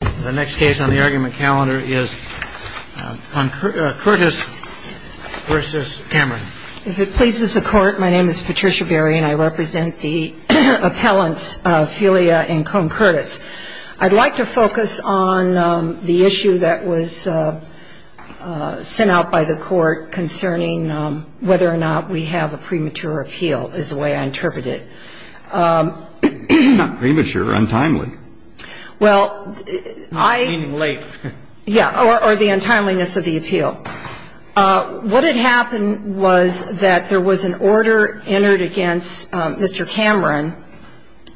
If it pleases the Court, my name is Patricia Berry, and I represent the appellants Felia and Cohn-Curtis. I'd like to focus on the issue that was sent out by the Court concerning whether or not we have a premature appeal, is the way I interpret it. Premature, untimely. Meaning late. Yeah, or the untimeliness of the appeal. What had happened was that there was an order entered against Mr. Cameron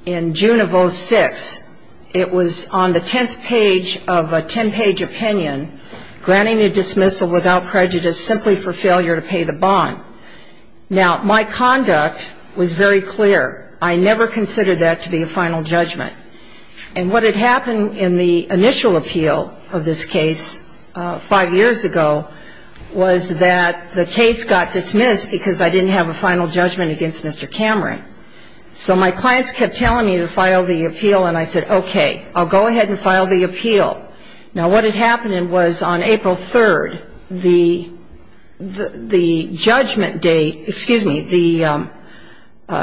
in June of 06. It was on the tenth page of a ten-page opinion, granting a dismissal without prejudice simply for failure to pay the bond. Now, my conduct was very clear. I never considered that to be a final judgment. And what had happened in the initial appeal of this case five years ago was that the case got dismissed because I didn't have a final judgment against Mr. Cameron. So my clients kept telling me to file the appeal, and I said, okay, I'll go ahead and file the appeal. Now, what had happened was on April 3rd, the judgment date, excuse me, the ‑‑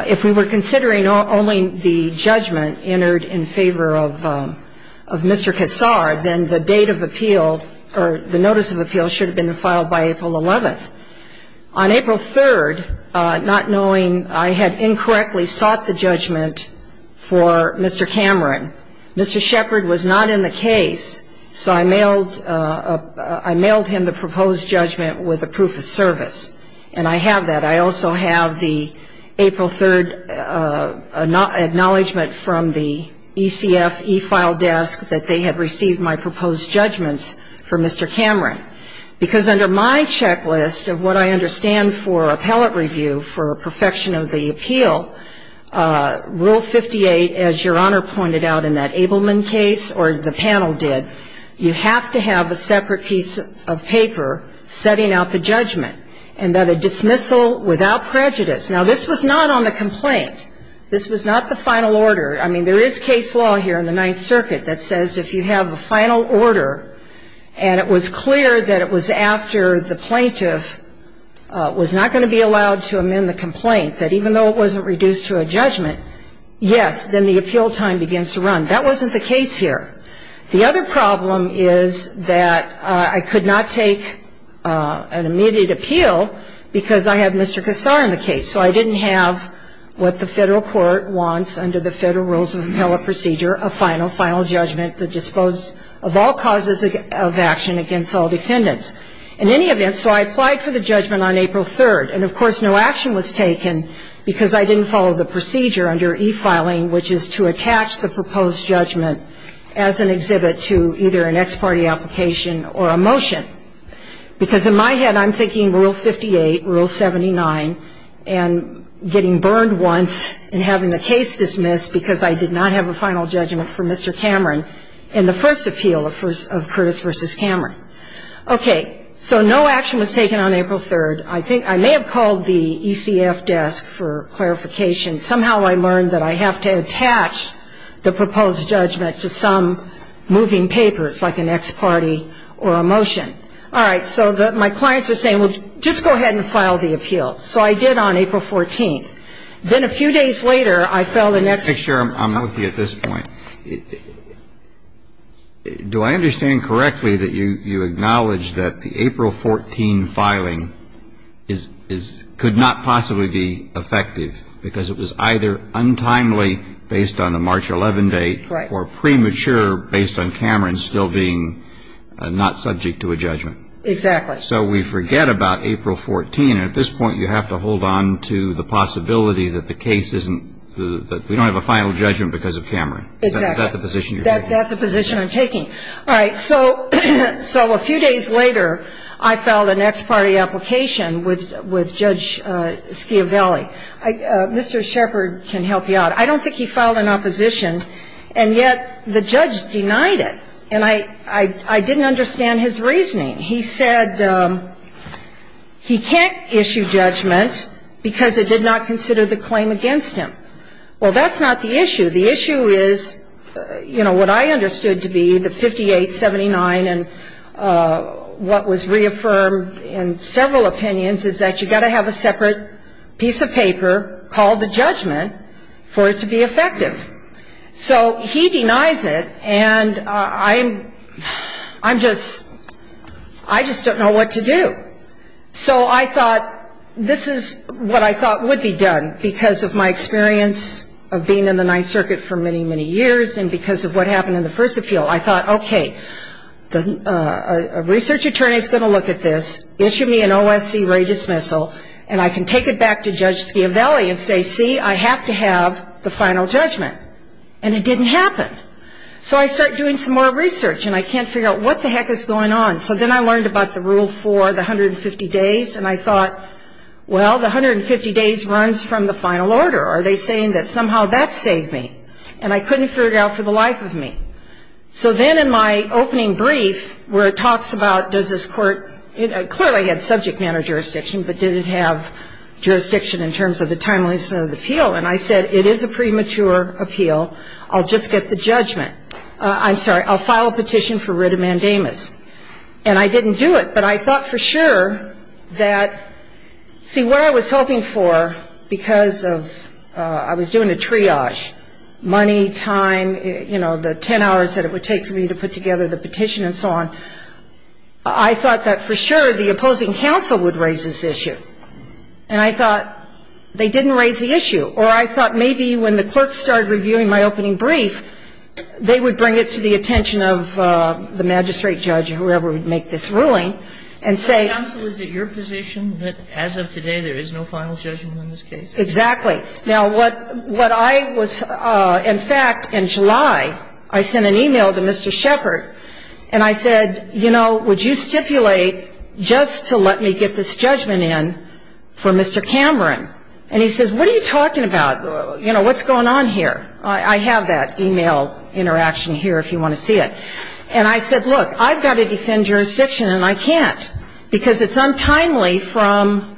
if we were considering only the judgment entered in favor of Mr. Kassar, then the date of appeal or the notice of appeal should have been filed by April 11th. On April 3rd, not knowing I had incorrectly sought the judgment for Mr. Cameron, Mr. Shepard was not in the case, so I mailed him the proposed judgment with a proof of service. And I have that. I also have the April 3rd acknowledgment from the ECF e‑file desk that they had received my proposed judgments for Mr. Cameron. Because under my checklist of what I understand for appellate review for perfection of the appeal, rule 58, as Your Honor pointed out in that Abelman case, or the panel did, you have to have a separate piece of paper setting out the judgment, and that a dismissal without prejudice. Now, this was not on the complaint. This was not the final order. I mean, there is case law here in the Ninth Circuit that says if you have a final order, and it was clear that it was after the plaintiff was not going to be allowed to amend the complaint, that even though it wasn't reduced to a judgment, yes, then the appeal time begins to run. That wasn't the case here. The other problem is that I could not take an immediate appeal because I had Mr. Kassar in the case. So I didn't have what the federal court wants under the Federal Rules of Appellate Procedure, a final, final judgment that disposed of all causes of action against all defendants. In any event, so I applied for the judgment on April 3rd. And, of course, no action was taken because I didn't follow the procedure under e-filing, which is to attach the proposed judgment as an exhibit to either an ex parte application or a motion. Because in my head, I'm thinking rule 58, rule 79, and getting burned once and having the case dismissed because I did not have a final judgment for Mr. Cameron in the first appeal of Curtis v. Cameron. Okay. So no action was taken on April 3rd. I think I may have called the ECF desk for clarification. Somehow I learned that I have to attach the proposed judgment to some moving papers, like an ex parte or a motion. All right. So my clients are saying, well, just go ahead and file the appeal. So I did on April 14th. Then a few days later, I filed an ex parte. Let me make sure I'm with you at this point. Do I understand correctly that you acknowledge that the April 14 filing could not possibly be effective because it was either untimely based on a March 11 date or premature based on Cameron still being not subject to a judgment? Exactly. So we forget about April 14. And at this point, you have to hold on to the possibility that the case isn't, that we don't have a final judgment because of Cameron. Exactly. Is that the position you're taking? That's the position I'm taking. All right. So a few days later, I filed an ex parte application with Judge Schiavelli. Mr. Shepard can help you out. I don't think he filed an opposition, and yet the judge denied it. And I didn't understand his reasoning. He said he can't issue judgment because it did not consider the claim against him. Well, that's not the issue. The issue is, you know, what I understood to be the 5879 and what was reaffirmed in several opinions is that you've got to have a separate piece of paper called the judgment for it to be effective. So he denies it, and I'm just, I just don't know what to do. So I thought this is what I thought would be done because of my experience of being in the Ninth Circuit for many, many years and because of what happened in the first appeal. I thought, okay, a research attorney is going to look at this, issue me an OSC rate dismissal, and I can take it back to Judge Schiavelli and say, see, I have to have the final judgment. And it didn't happen. So I start doing some more research, and I can't figure out what the heck is going on. So then I learned about the rule for the 150 days, and I thought, well, the 150 days runs from the final order. Are they saying that somehow that saved me? And I couldn't figure out for the life of me. So then in my opening brief where it talks about does this court, it clearly had subject matter jurisdiction, but did it have jurisdiction in terms of the timeliness of the appeal? And I said, it is a premature appeal. I'll just get the judgment. I'm sorry, I'll file a petition for writ of mandamus. And I didn't do it, but I thought for sure that, see, what I was hoping for because of I was doing a triage, money, time, you know, the 10 hours that it would take for me to put together the petition and so on, I thought that for sure the opposing counsel would raise this issue. And I thought they didn't raise the issue. Or I thought maybe when the clerk started reviewing my opening brief, they would bring it to the attention of the magistrate judge or whoever would make this ruling and say ‑‑ But the counsel is at your position that as of today there is no final judgment on this case? Exactly. Now, what I was ‑‑ in fact, in July I sent an e-mail to Mr. Shepard and I said, you know, would you stipulate just to let me get this judgment in for Mr. Cameron? And he says, what are you talking about? You know, what's going on here? I have that e-mail interaction here if you want to see it. And I said, look, I've got to defend jurisdiction and I can't Because it's untimely from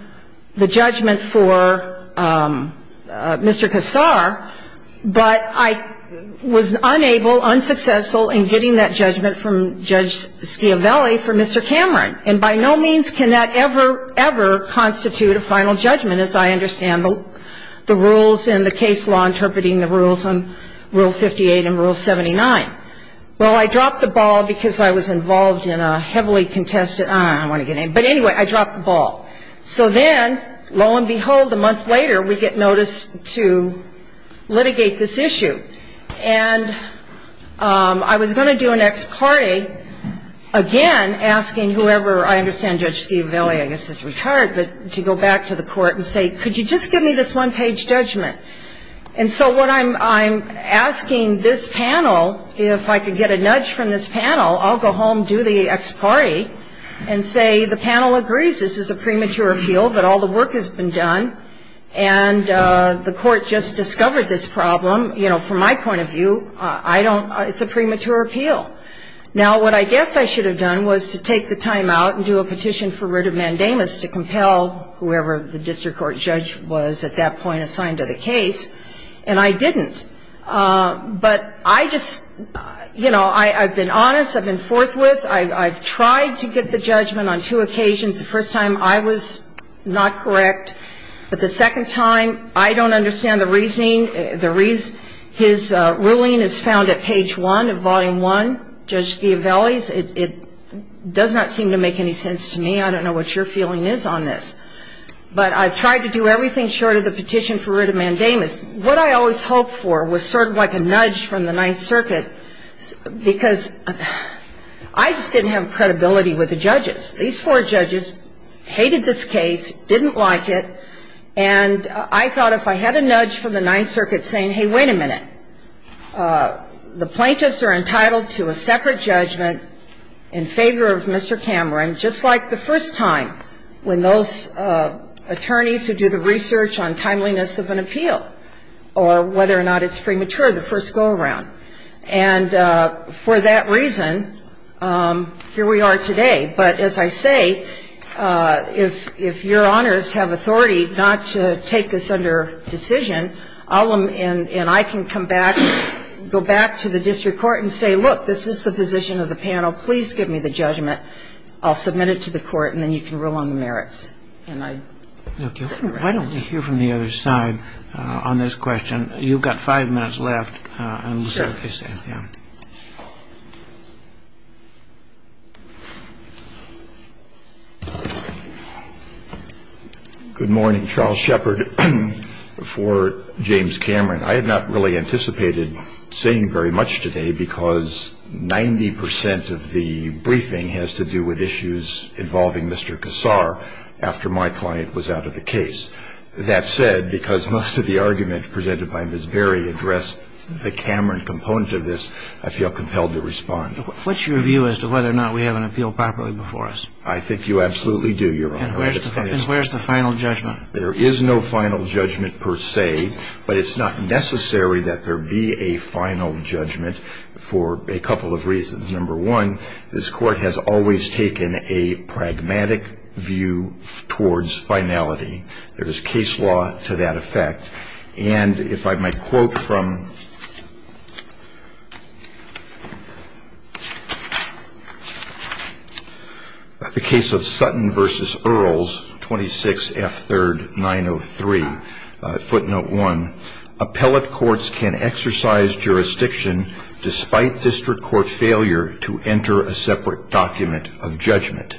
the judgment for Mr. Kassar, but I was unable, unsuccessful in getting that judgment from Judge Schiavelli for Mr. Cameron. And by no means can that ever, ever constitute a final judgment as I understand the rules and the case law interpreting the rules on Rule 58 and Rule 79. Well, I dropped the ball because I was involved in a heavily contested ‑‑ I don't want to get in. But anyway, I dropped the ball. So then, lo and behold, a month later we get notice to litigate this issue. And I was going to do an ex parte, again, asking whoever ‑‑ I understand Judge Schiavelli, I guess, is retired, but to go back to the court and say, could you just give me this one-page judgment? And so what I'm asking this panel, if I could get a nudge from this panel, I'll go home, do the ex parte, and say the panel agrees this is a premature appeal, but all the work has been done and the court just discovered this problem. You know, from my point of view, I don't ‑‑ it's a premature appeal. Now, what I guess I should have done was to take the time out and do a petition for writ of mandamus to compel whoever the district court judge was at that point assigned to the case. And I didn't. But I just, you know, I've been honest, I've been forthwith, I've tried to get the judgment on two occasions. The first time I was not correct. But the second time I don't understand the reasoning. His ruling is found at page one of volume one, Judge Schiavelli's. It does not seem to make any sense to me. I don't know what your feeling is on this. But I've tried to do everything short of the petition for writ of mandamus. What I always hoped for was sort of like a nudge from the Ninth Circuit, because I just didn't have credibility with the judges. These four judges hated this case, didn't like it, and I thought if I had a nudge from the Ninth Circuit saying, hey, wait a minute, the plaintiffs are entitled to a separate judgment in favor of Mr. Cameron, just like the first time when those attorneys who do the research on timeliness of an appeal or whether or not it's premature, the first go-around. And for that reason, here we are today. But as I say, if your honors have authority not to take this under decision, and I can come back, go back to the district court and say, look, this is the position of the panel, please give me the judgment, I'll submit it to the court and then you can rule on the merits. And I think that's it. Why don't we hear from the other side on this question. You've got five minutes left. Sure. Yeah. Good morning. Charles Shepard for James Cameron. I have not really anticipated saying very much today because 90 percent of the briefing has to do with issues involving Mr. Kassar after my client was out of the case. That said, because most of the argument presented by Ms. Berry addressed the Cameron component of this, I feel compelled to respond. What's your view as to whether or not we have an appeal properly before us? I think you absolutely do, Your Honor. And where's the final judgment? There is no final judgment per se, but it's not necessary that there be a final judgment for a couple of reasons. Number one, this Court has always taken a pragmatic view towards finality. And if I might quote from the case of Sutton v. Earls, 26 F. 3rd, 903, footnote 1, appellate courts can exercise jurisdiction despite district court failure to enter a separate document of judgment.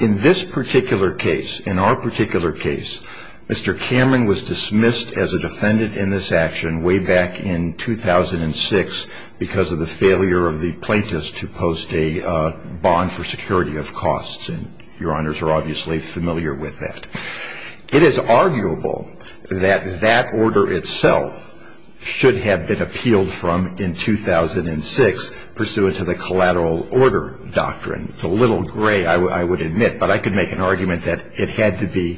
In this particular case, in our particular case, Mr. Cameron was dismissed as a defendant in this action way back in 2006 because of the failure of the plaintiffs to post a bond for security of costs, and Your Honors are obviously familiar with that. It is arguable that that order itself should have been appealed from in 2006, pursuant to the collateral order doctrine. It's a little gray, I would admit, but I could make an argument that it had to be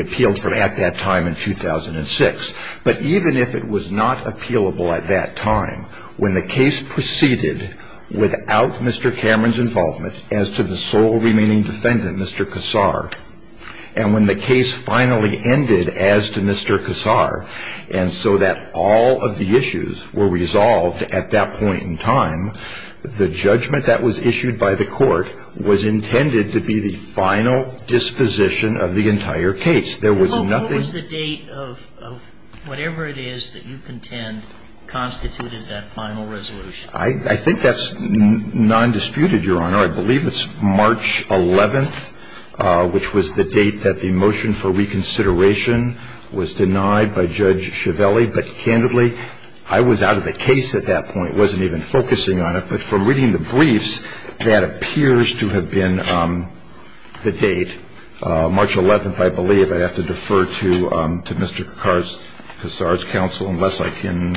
appealed from at that time in 2006. But even if it was not appealable at that time, when the case proceeded without Mr. Cameron's involvement as to the sole remaining defendant, Mr. Kassar, and when the case finally ended as to Mr. Kassar, and so that all of the issues were resolved at that point in time, the judgment that was issued by the court was intended to be the final disposition of the entire case. There was nothing else. Well, what was the date of whatever it is that you contend constituted that final resolution? I think that's nondisputed, Your Honor. I believe it's March 11th, which was the date that the motion for reconsideration was denied by Judge Ciavelli. But candidly, I was out of the case at that point, wasn't even focusing on it. But from reading the briefs, that appears to have been the date. March 11th, I believe. I'd have to defer to Mr. Kassar's counsel unless I can.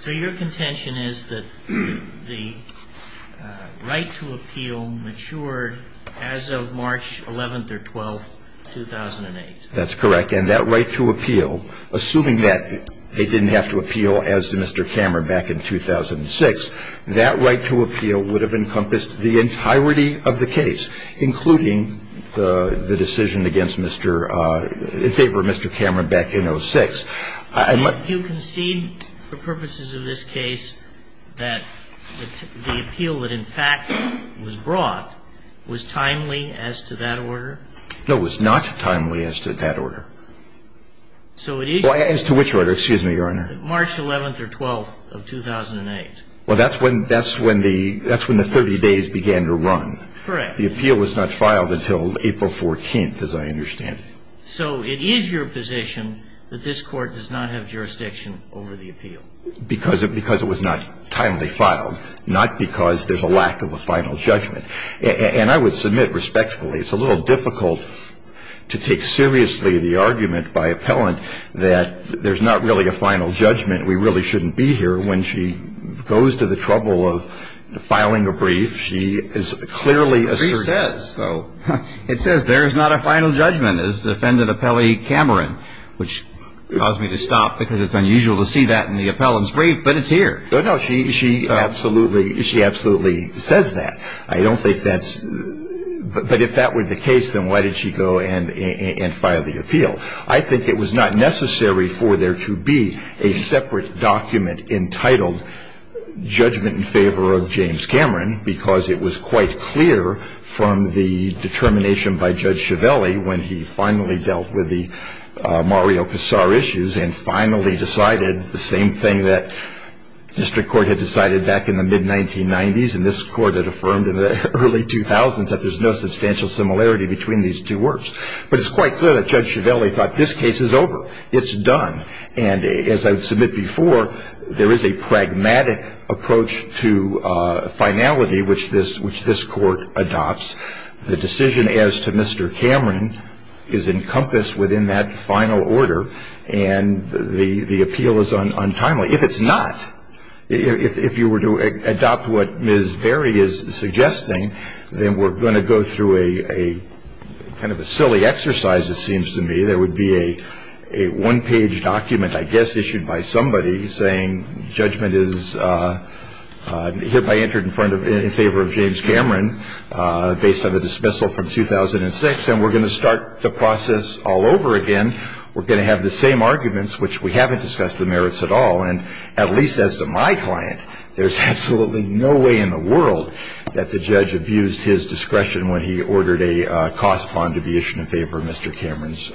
So your contention is that the right to appeal matured as of March 11th or 12th, 2008? That's correct. And that right to appeal, assuming that they didn't have to appeal as to Mr. Cameron back in 2006, that right to appeal would have encompassed the entirety of the case, including the decision against Mr. – in favor of Mr. Cameron back in 2006. And you concede for purposes of this case that the appeal that in fact was brought was timely as to that order? No, it was not timely as to that order. As to which order? Excuse me, Your Honor. March 11th or 12th of 2008. Well, that's when the 30 days began to run. And that's when the 30 days began to run. And that's when the 30 days began to run. In fact, the appeal was not filed until April 14th, as I understand. So it is your position that this Court does not have jurisdiction over the appeal? Because it was not timely filed, not because there's a lack of a final judgment. And I would submit respectfully, it's a little difficult to take seriously the argument by appellant that there's not really a final judgment, we really shouldn't be here. When she goes to the trouble of filing a brief, she is clearly assertive. The brief says, though. It says there is not a final judgment, as defendant appellee Cameron, which caused me to stop because it's unusual to see that in the appellant's brief, but it's here. No, no. She absolutely says that. I don't think that's – but if that were the case, then why did she go and file the appeal? I think it was not necessary for there to be a separate document entitled judgment in favor of James Cameron because it was quite clear from the determination by Judge Chiavelli when he finally dealt with the Mario Casar issues and finally decided the same thing that district court had decided back in the mid-1990s and this Court had affirmed in the early 2000s, that there's no substantial similarity between these two works. But it's quite clear that Judge Chiavelli thought this case is over. It's done. And as I would submit before, there is a pragmatic approach to finality which this Court adopts. The decision as to Mr. Cameron is encompassed within that final order and the appeal is untimely. If it's not, if you were to adopt what Ms. Berry is suggesting, then we're going to go through a kind of a silly exercise, it seems to me. There would be a one-page document, I guess issued by somebody, saying judgment is – hereby entered in favor of James Cameron based on the dismissal from 2006 and we're going to start the process all over again. We're going to have the same arguments, which we haven't discussed the merits at all, and at least as to my client, there's absolutely no way in the world that the defendant's discretion when he ordered a cost bond to be issued in favor of Mr. Cameron's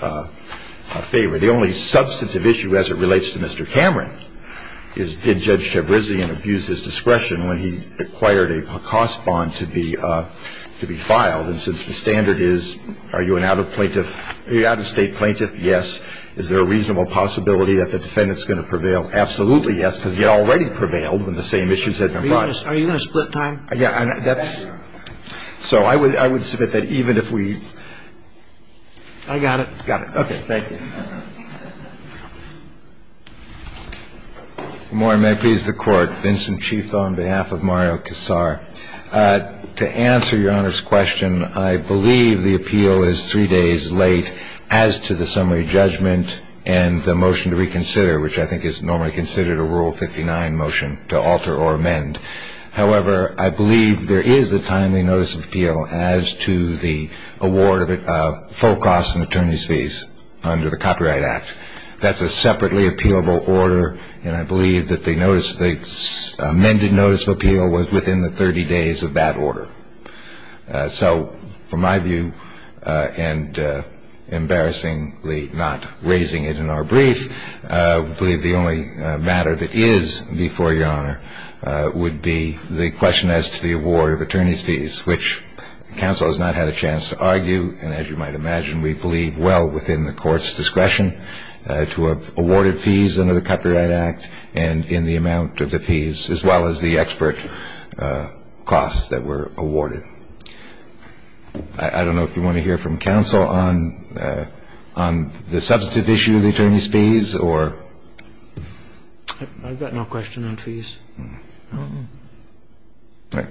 favor. The only substantive issue as it relates to Mr. Cameron is did Judge Chiaverzi abuse his discretion when he acquired a cost bond to be filed. And since the standard is are you an out-of-state plaintiff, yes. Is there a reasonable possibility that the defendant's going to prevail? Absolutely, yes, because he already prevailed when the same issues had been brought Are you going to split time? Yeah, that's – so I would submit that even if we – I got it. Got it. Okay, thank you. Good morning. May it please the Court. Vincent Chief on behalf of Mario Kassar. To answer Your Honor's question, I believe the appeal is three days late as to the summary judgment and the motion to reconsider, which I think is normally considered a Rule 59 motion to alter or amend. However, I believe there is a timely notice of appeal as to the award of full costs and attorney's fees under the Copyright Act. That's a separately appealable order, and I believe that they noticed the amended notice of appeal was within the 30 days of that order. So from my view, and embarrassingly not raising it in our brief, I believe the only matter that is before Your Honor would be the question as to the award of attorney's fees, which counsel has not had a chance to argue, and as you might imagine, we believe well within the Court's discretion to have awarded fees under the Copyright Act and in the amount of the fees, as well as the expert costs that were awarded. I don't know if you want to hear from counsel on the substantive issue of the attorney's fees. I've got no question on fees. All right.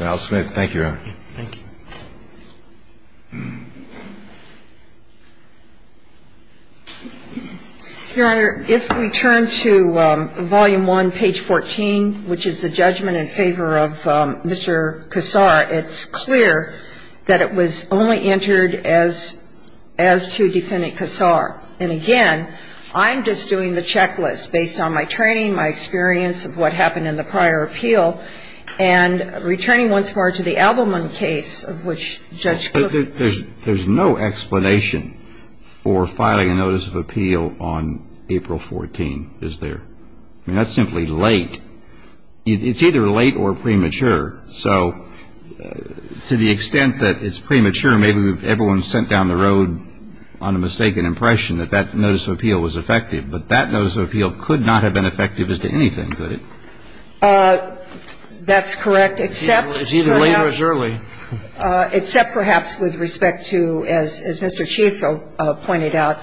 Al Smith, thank you, Your Honor. Thank you. Your Honor, if we turn to Volume I, page 14, which is the judgment in favor of Mr. Kassar, it's clear that it was only entered as to Defendant Kassar. And again, I'm just doing the checklist based on my training, my experience of what happened in the prior appeal, and returning once more to the Abelman case of which Judge Cook ---- There's no explanation for filing a notice of appeal on April 14, is there? I mean, that's simply late. It's either late or premature. So to the extent that it's premature, maybe everyone sent down the road on a mistaken impression that that notice of appeal was effective. But that notice of appeal could not have been effective as to anything, could it? That's correct, except perhaps ---- It's either late or it's early. Except perhaps with respect to, as Mr. Chief pointed out,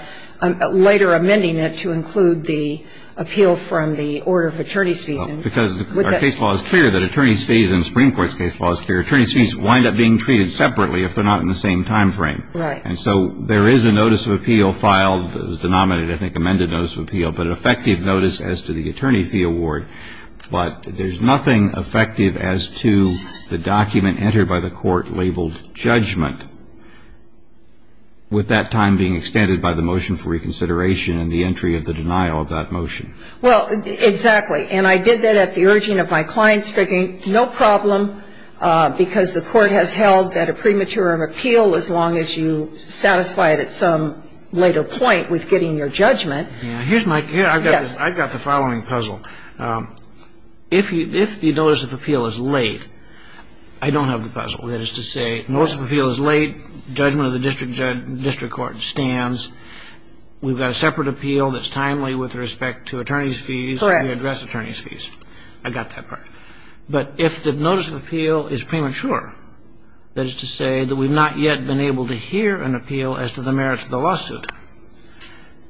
later amending it to include the appeal from the order of attorney's fees. Because our case law is clear that attorney's fees and the Supreme Court's case law is clear. Attorney's fees wind up being treated separately if they're not in the same timeframe. Right. And so there is a notice of appeal filed. It was denominated, I think, amended notice of appeal, but an effective notice as to the attorney fee award. But there's nothing effective as to the document entered by the Court labeled judgment, with that time being extended by the motion for reconsideration and the entry of the denial of that motion. Well, exactly. And I did that at the urging of my clients, thinking no problem, because the Court has held that a premature appeal, as long as you satisfy it at some later point with getting your judgment. Here's my ---- Yes. I've got the following puzzle. If the notice of appeal is late, I don't have the puzzle. That is to say, notice of appeal is late, judgment of the district court stands, we've got a separate appeal that's timely with respect to attorney's fees. Correct. We address attorney's fees. I've got that part. But if the notice of appeal is premature, that is to say that we've not yet been able to hear an appeal as to the merits of the lawsuit,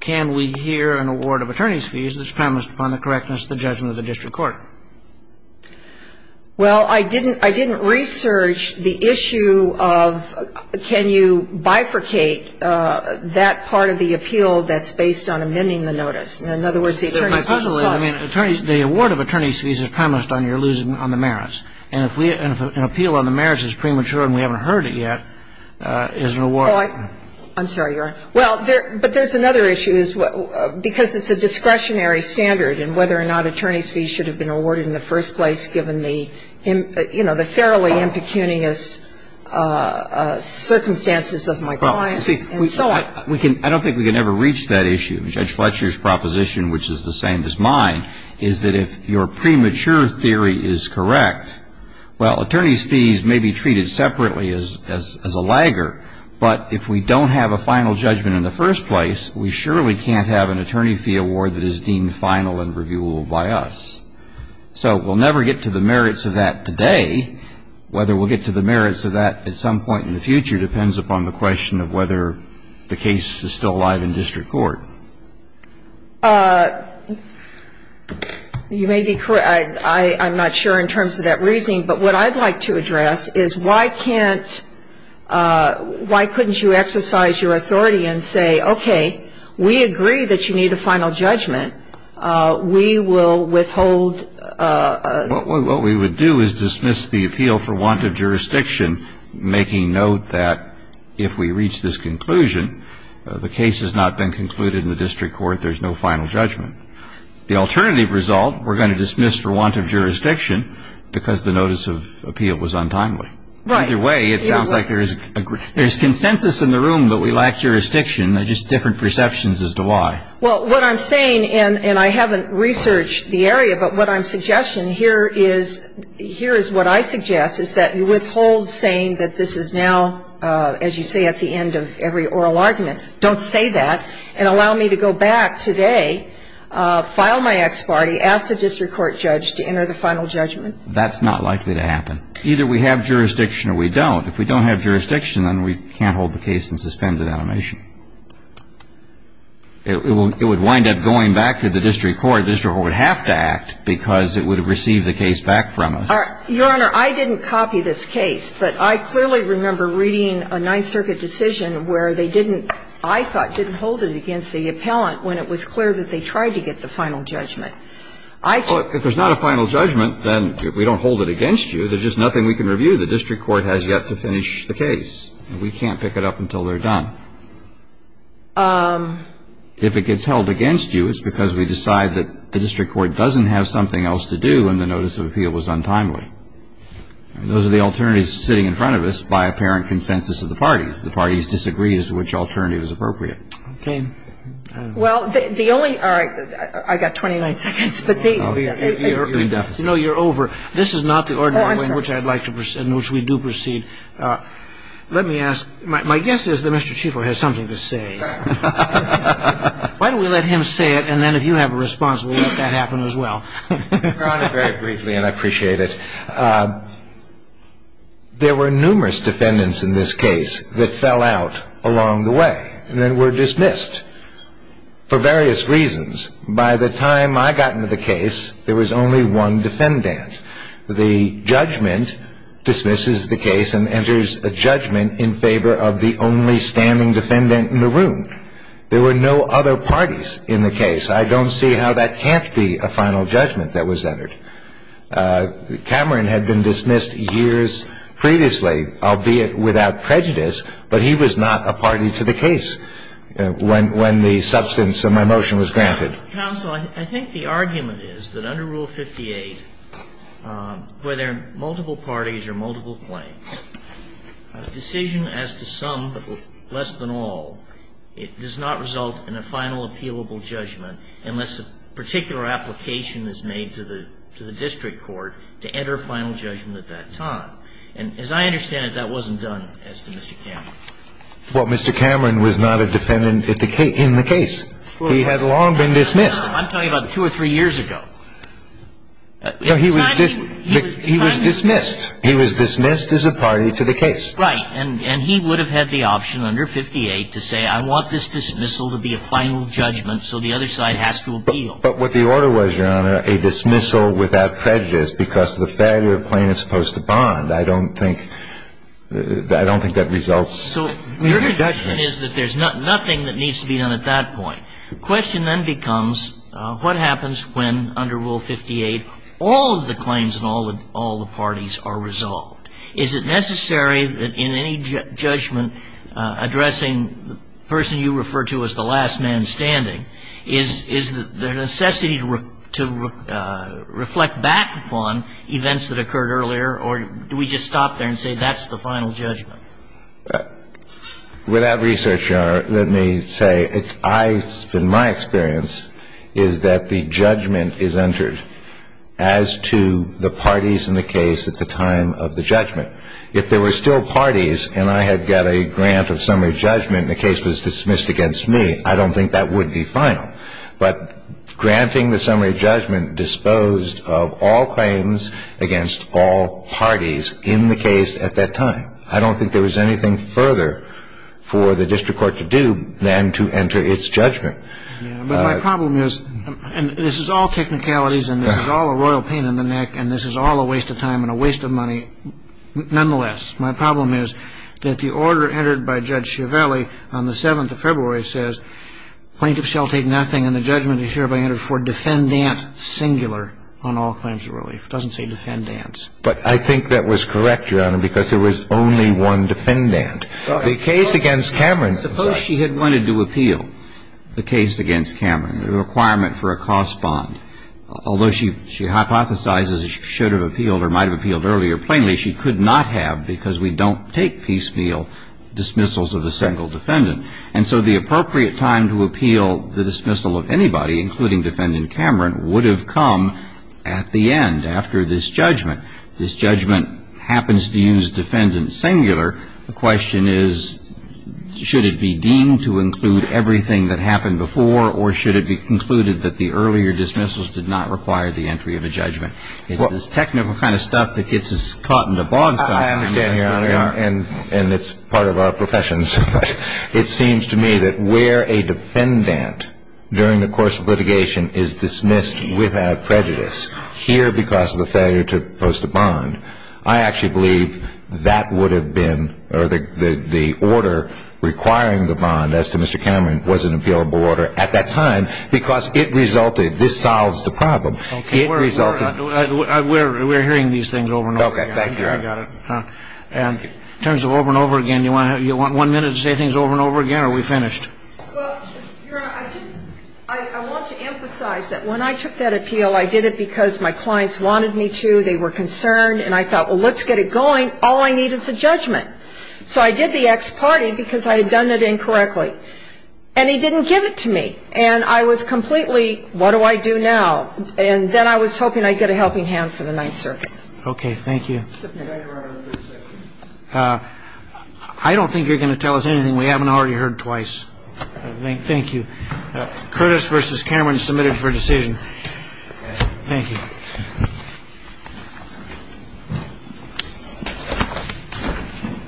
can we hear an award of attorney's fees that's promised upon the correctness of the judgment of the district court? Well, I didn't research the issue of can you bifurcate that part of the appeal that's based on amending the notice. In other words, the attorney's fees are lost. Well, my puzzle is, I mean, the award of attorney's fees is promised on your losing on the merits. And if an appeal on the merits is premature and we haven't heard it yet is an award. I'm sorry, Your Honor. Well, but there's another issue, because it's a discretionary standard, and whether or not attorney's fees should have been awarded in the first place given the, you know, the thoroughly impecunious circumstances of my clients and so on. Well, see, I don't think we can ever reach that issue. Judge Fletcher's proposition, which is the same as mine, is that if your premature theory is correct, well, attorney's fees may be treated separately as a lagger. But if we don't have a final judgment in the first place, we surely can't have an attorney fee award that is deemed final and reviewable by us. So we'll never get to the merits of that today. Whether we'll get to the merits of that at some point in the future depends upon the You may be correct. I'm not sure in terms of that reasoning, but what I'd like to address is why can't why couldn't you exercise your authority and say, okay, we agree that you need a final judgment. We will withhold What we would do is dismiss the appeal for want of jurisdiction, making note that if we reach this conclusion, the case has not been concluded in the district court. There's no final judgment. The alternative result, we're going to dismiss for want of jurisdiction because the notice of appeal was untimely. Right. Either way, it sounds like there's consensus in the room that we lack jurisdiction. They're just different perceptions as to why. Well, what I'm saying, and I haven't researched the area, but what I'm suggesting here is what I suggest, is that you withhold saying that this is now, as you say, at the end of every oral argument. Don't say that. And allow me to go back today, file my ex parte, ask the district court judge to enter the final judgment. That's not likely to happen. Either we have jurisdiction or we don't. If we don't have jurisdiction, then we can't hold the case in suspended animation. It would wind up going back to the district court. I'm not saying that the district court would have to act because it would have received the case back from us. Your Honor, I didn't copy this case, but I clearly remember reading a Ninth Circuit decision where they didn't, I thought, didn't hold it against the appellant when it was clear that they tried to get the final judgment. If there's not a final judgment, then we don't hold it against you. There's just nothing we can review. The district court has yet to finish the case. We can't pick it up until they're done. If it gets held against you, it's because we decide that the district court doesn't have something else to do and the notice of appeal was untimely. Those are the alternatives sitting in front of us by apparent consensus of the parties. The parties disagree as to which alternative is appropriate. Okay. Well, the only ‑‑ all right. I've got 29 seconds. You're in deficit. No, you're over. This is not the ordinary way in which I'd like to proceed, in which we do proceed. Let me ask. My guess is that Mr. Chief will have something to say. Why don't we let him say it, and then if you have a response, we'll let that happen as well. Your Honor, very briefly, and I appreciate it. There were numerous defendants in this case that fell out along the way and then were dismissed for various reasons. By the time I got into the case, there was only one defendant. The judgment dismisses the case and enters a judgment in favor of the only standing defendant in the room. There were no other parties in the case. I don't see how that can't be a final judgment that was entered. Cameron had been dismissed years previously, albeit without prejudice, but he was not a party to the case when the substance of my motion was granted. Counsel, I think the argument is that under Rule 58, where there are multiple parties or multiple claims, a decision as to some but less than all, it does not result in a final appealable judgment unless a particular application is made to the district court to enter a final judgment at that time. And as I understand it, that wasn't done as to Mr. Cameron. Well, Mr. Cameron was not a defendant in the case. He had long been dismissed. I'm talking about two or three years ago. No, he was dismissed. He was dismissed as a party to the case. Right. And he would have had the option under 58 to say, I want this dismissal to be a final judgment, so the other side has to appeal. But what the order was, Your Honor, a dismissal without prejudice because the failure of plaintiff's post to bond. I don't think that results in a judgment. The question is that there's nothing that needs to be done at that point. The question then becomes what happens when, under Rule 58, all of the claims and all the parties are resolved? Is it necessary that in any judgment addressing the person you refer to as the last man standing, is there a necessity to reflect back upon events that occurred earlier or do we just stop there and say that's the final judgment? Without research, Your Honor, let me say it's been my experience is that the judgment is entered as to the parties in the case at the time of the judgment. If there were still parties and I had got a grant of summary judgment and the case was dismissed against me, I don't think that would be final. But granting the summary judgment disposed of all claims against all parties in the case at that time. I don't think there was anything further for the district court to do than to enter its judgment. But my problem is, and this is all technicalities and this is all a royal pain in the neck and this is all a waste of time and a waste of money nonetheless. My problem is that the order entered by Judge Chiavelli on the 7th of February says plaintiff shall take nothing and the judgment is hereby entered for defendant singular on all claims of relief. It doesn't say defendants. But I think that was correct, Your Honor, because there was only one defendant. The case against Cameron. Suppose she had wanted to appeal the case against Cameron, the requirement for a cost bond. Although she hypothesizes she should have appealed or might have appealed earlier plainly, she could not have because we don't take piecemeal dismissals of a single defendant. And so the appropriate time to appeal the dismissal of anybody, including defendant Cameron, would have come at the end, after this judgment. This judgment happens to use defendant singular. The question is, should it be deemed to include everything that happened before or should it be concluded that the earlier dismissals did not require the entry of a judgment? It's this technical kind of stuff that gets us caught in the bog time. I understand, Your Honor. And it's part of our professions. It seems to me that where a defendant during the course of litigation is dismissed without prejudice, here because of the failure to post a bond, I actually believe that would have been, or the order requiring the bond as to Mr. Cameron was an appealable order at that time because it resulted, this solves the problem. It resulted. We're hearing these things over and over again. Okay. Thank you, Your Honor. I got it. In terms of over and over again, you want one minute to say things over and over again or are we finished? Well, Your Honor, I want to emphasize that when I took that appeal, I did it because my clients wanted me to, they were concerned, and I thought, well, let's get it going. All I need is a judgment. So I did the ex parte because I had done it incorrectly. And he didn't give it to me. And I was completely, what do I do now? And then I was hoping I'd get a helping hand for the Ninth Circuit. Okay. Thank you. I don't think you're going to tell us anything we haven't already heard twice. Thank you. Curtis versus Cameron submitted for decision. Thank you.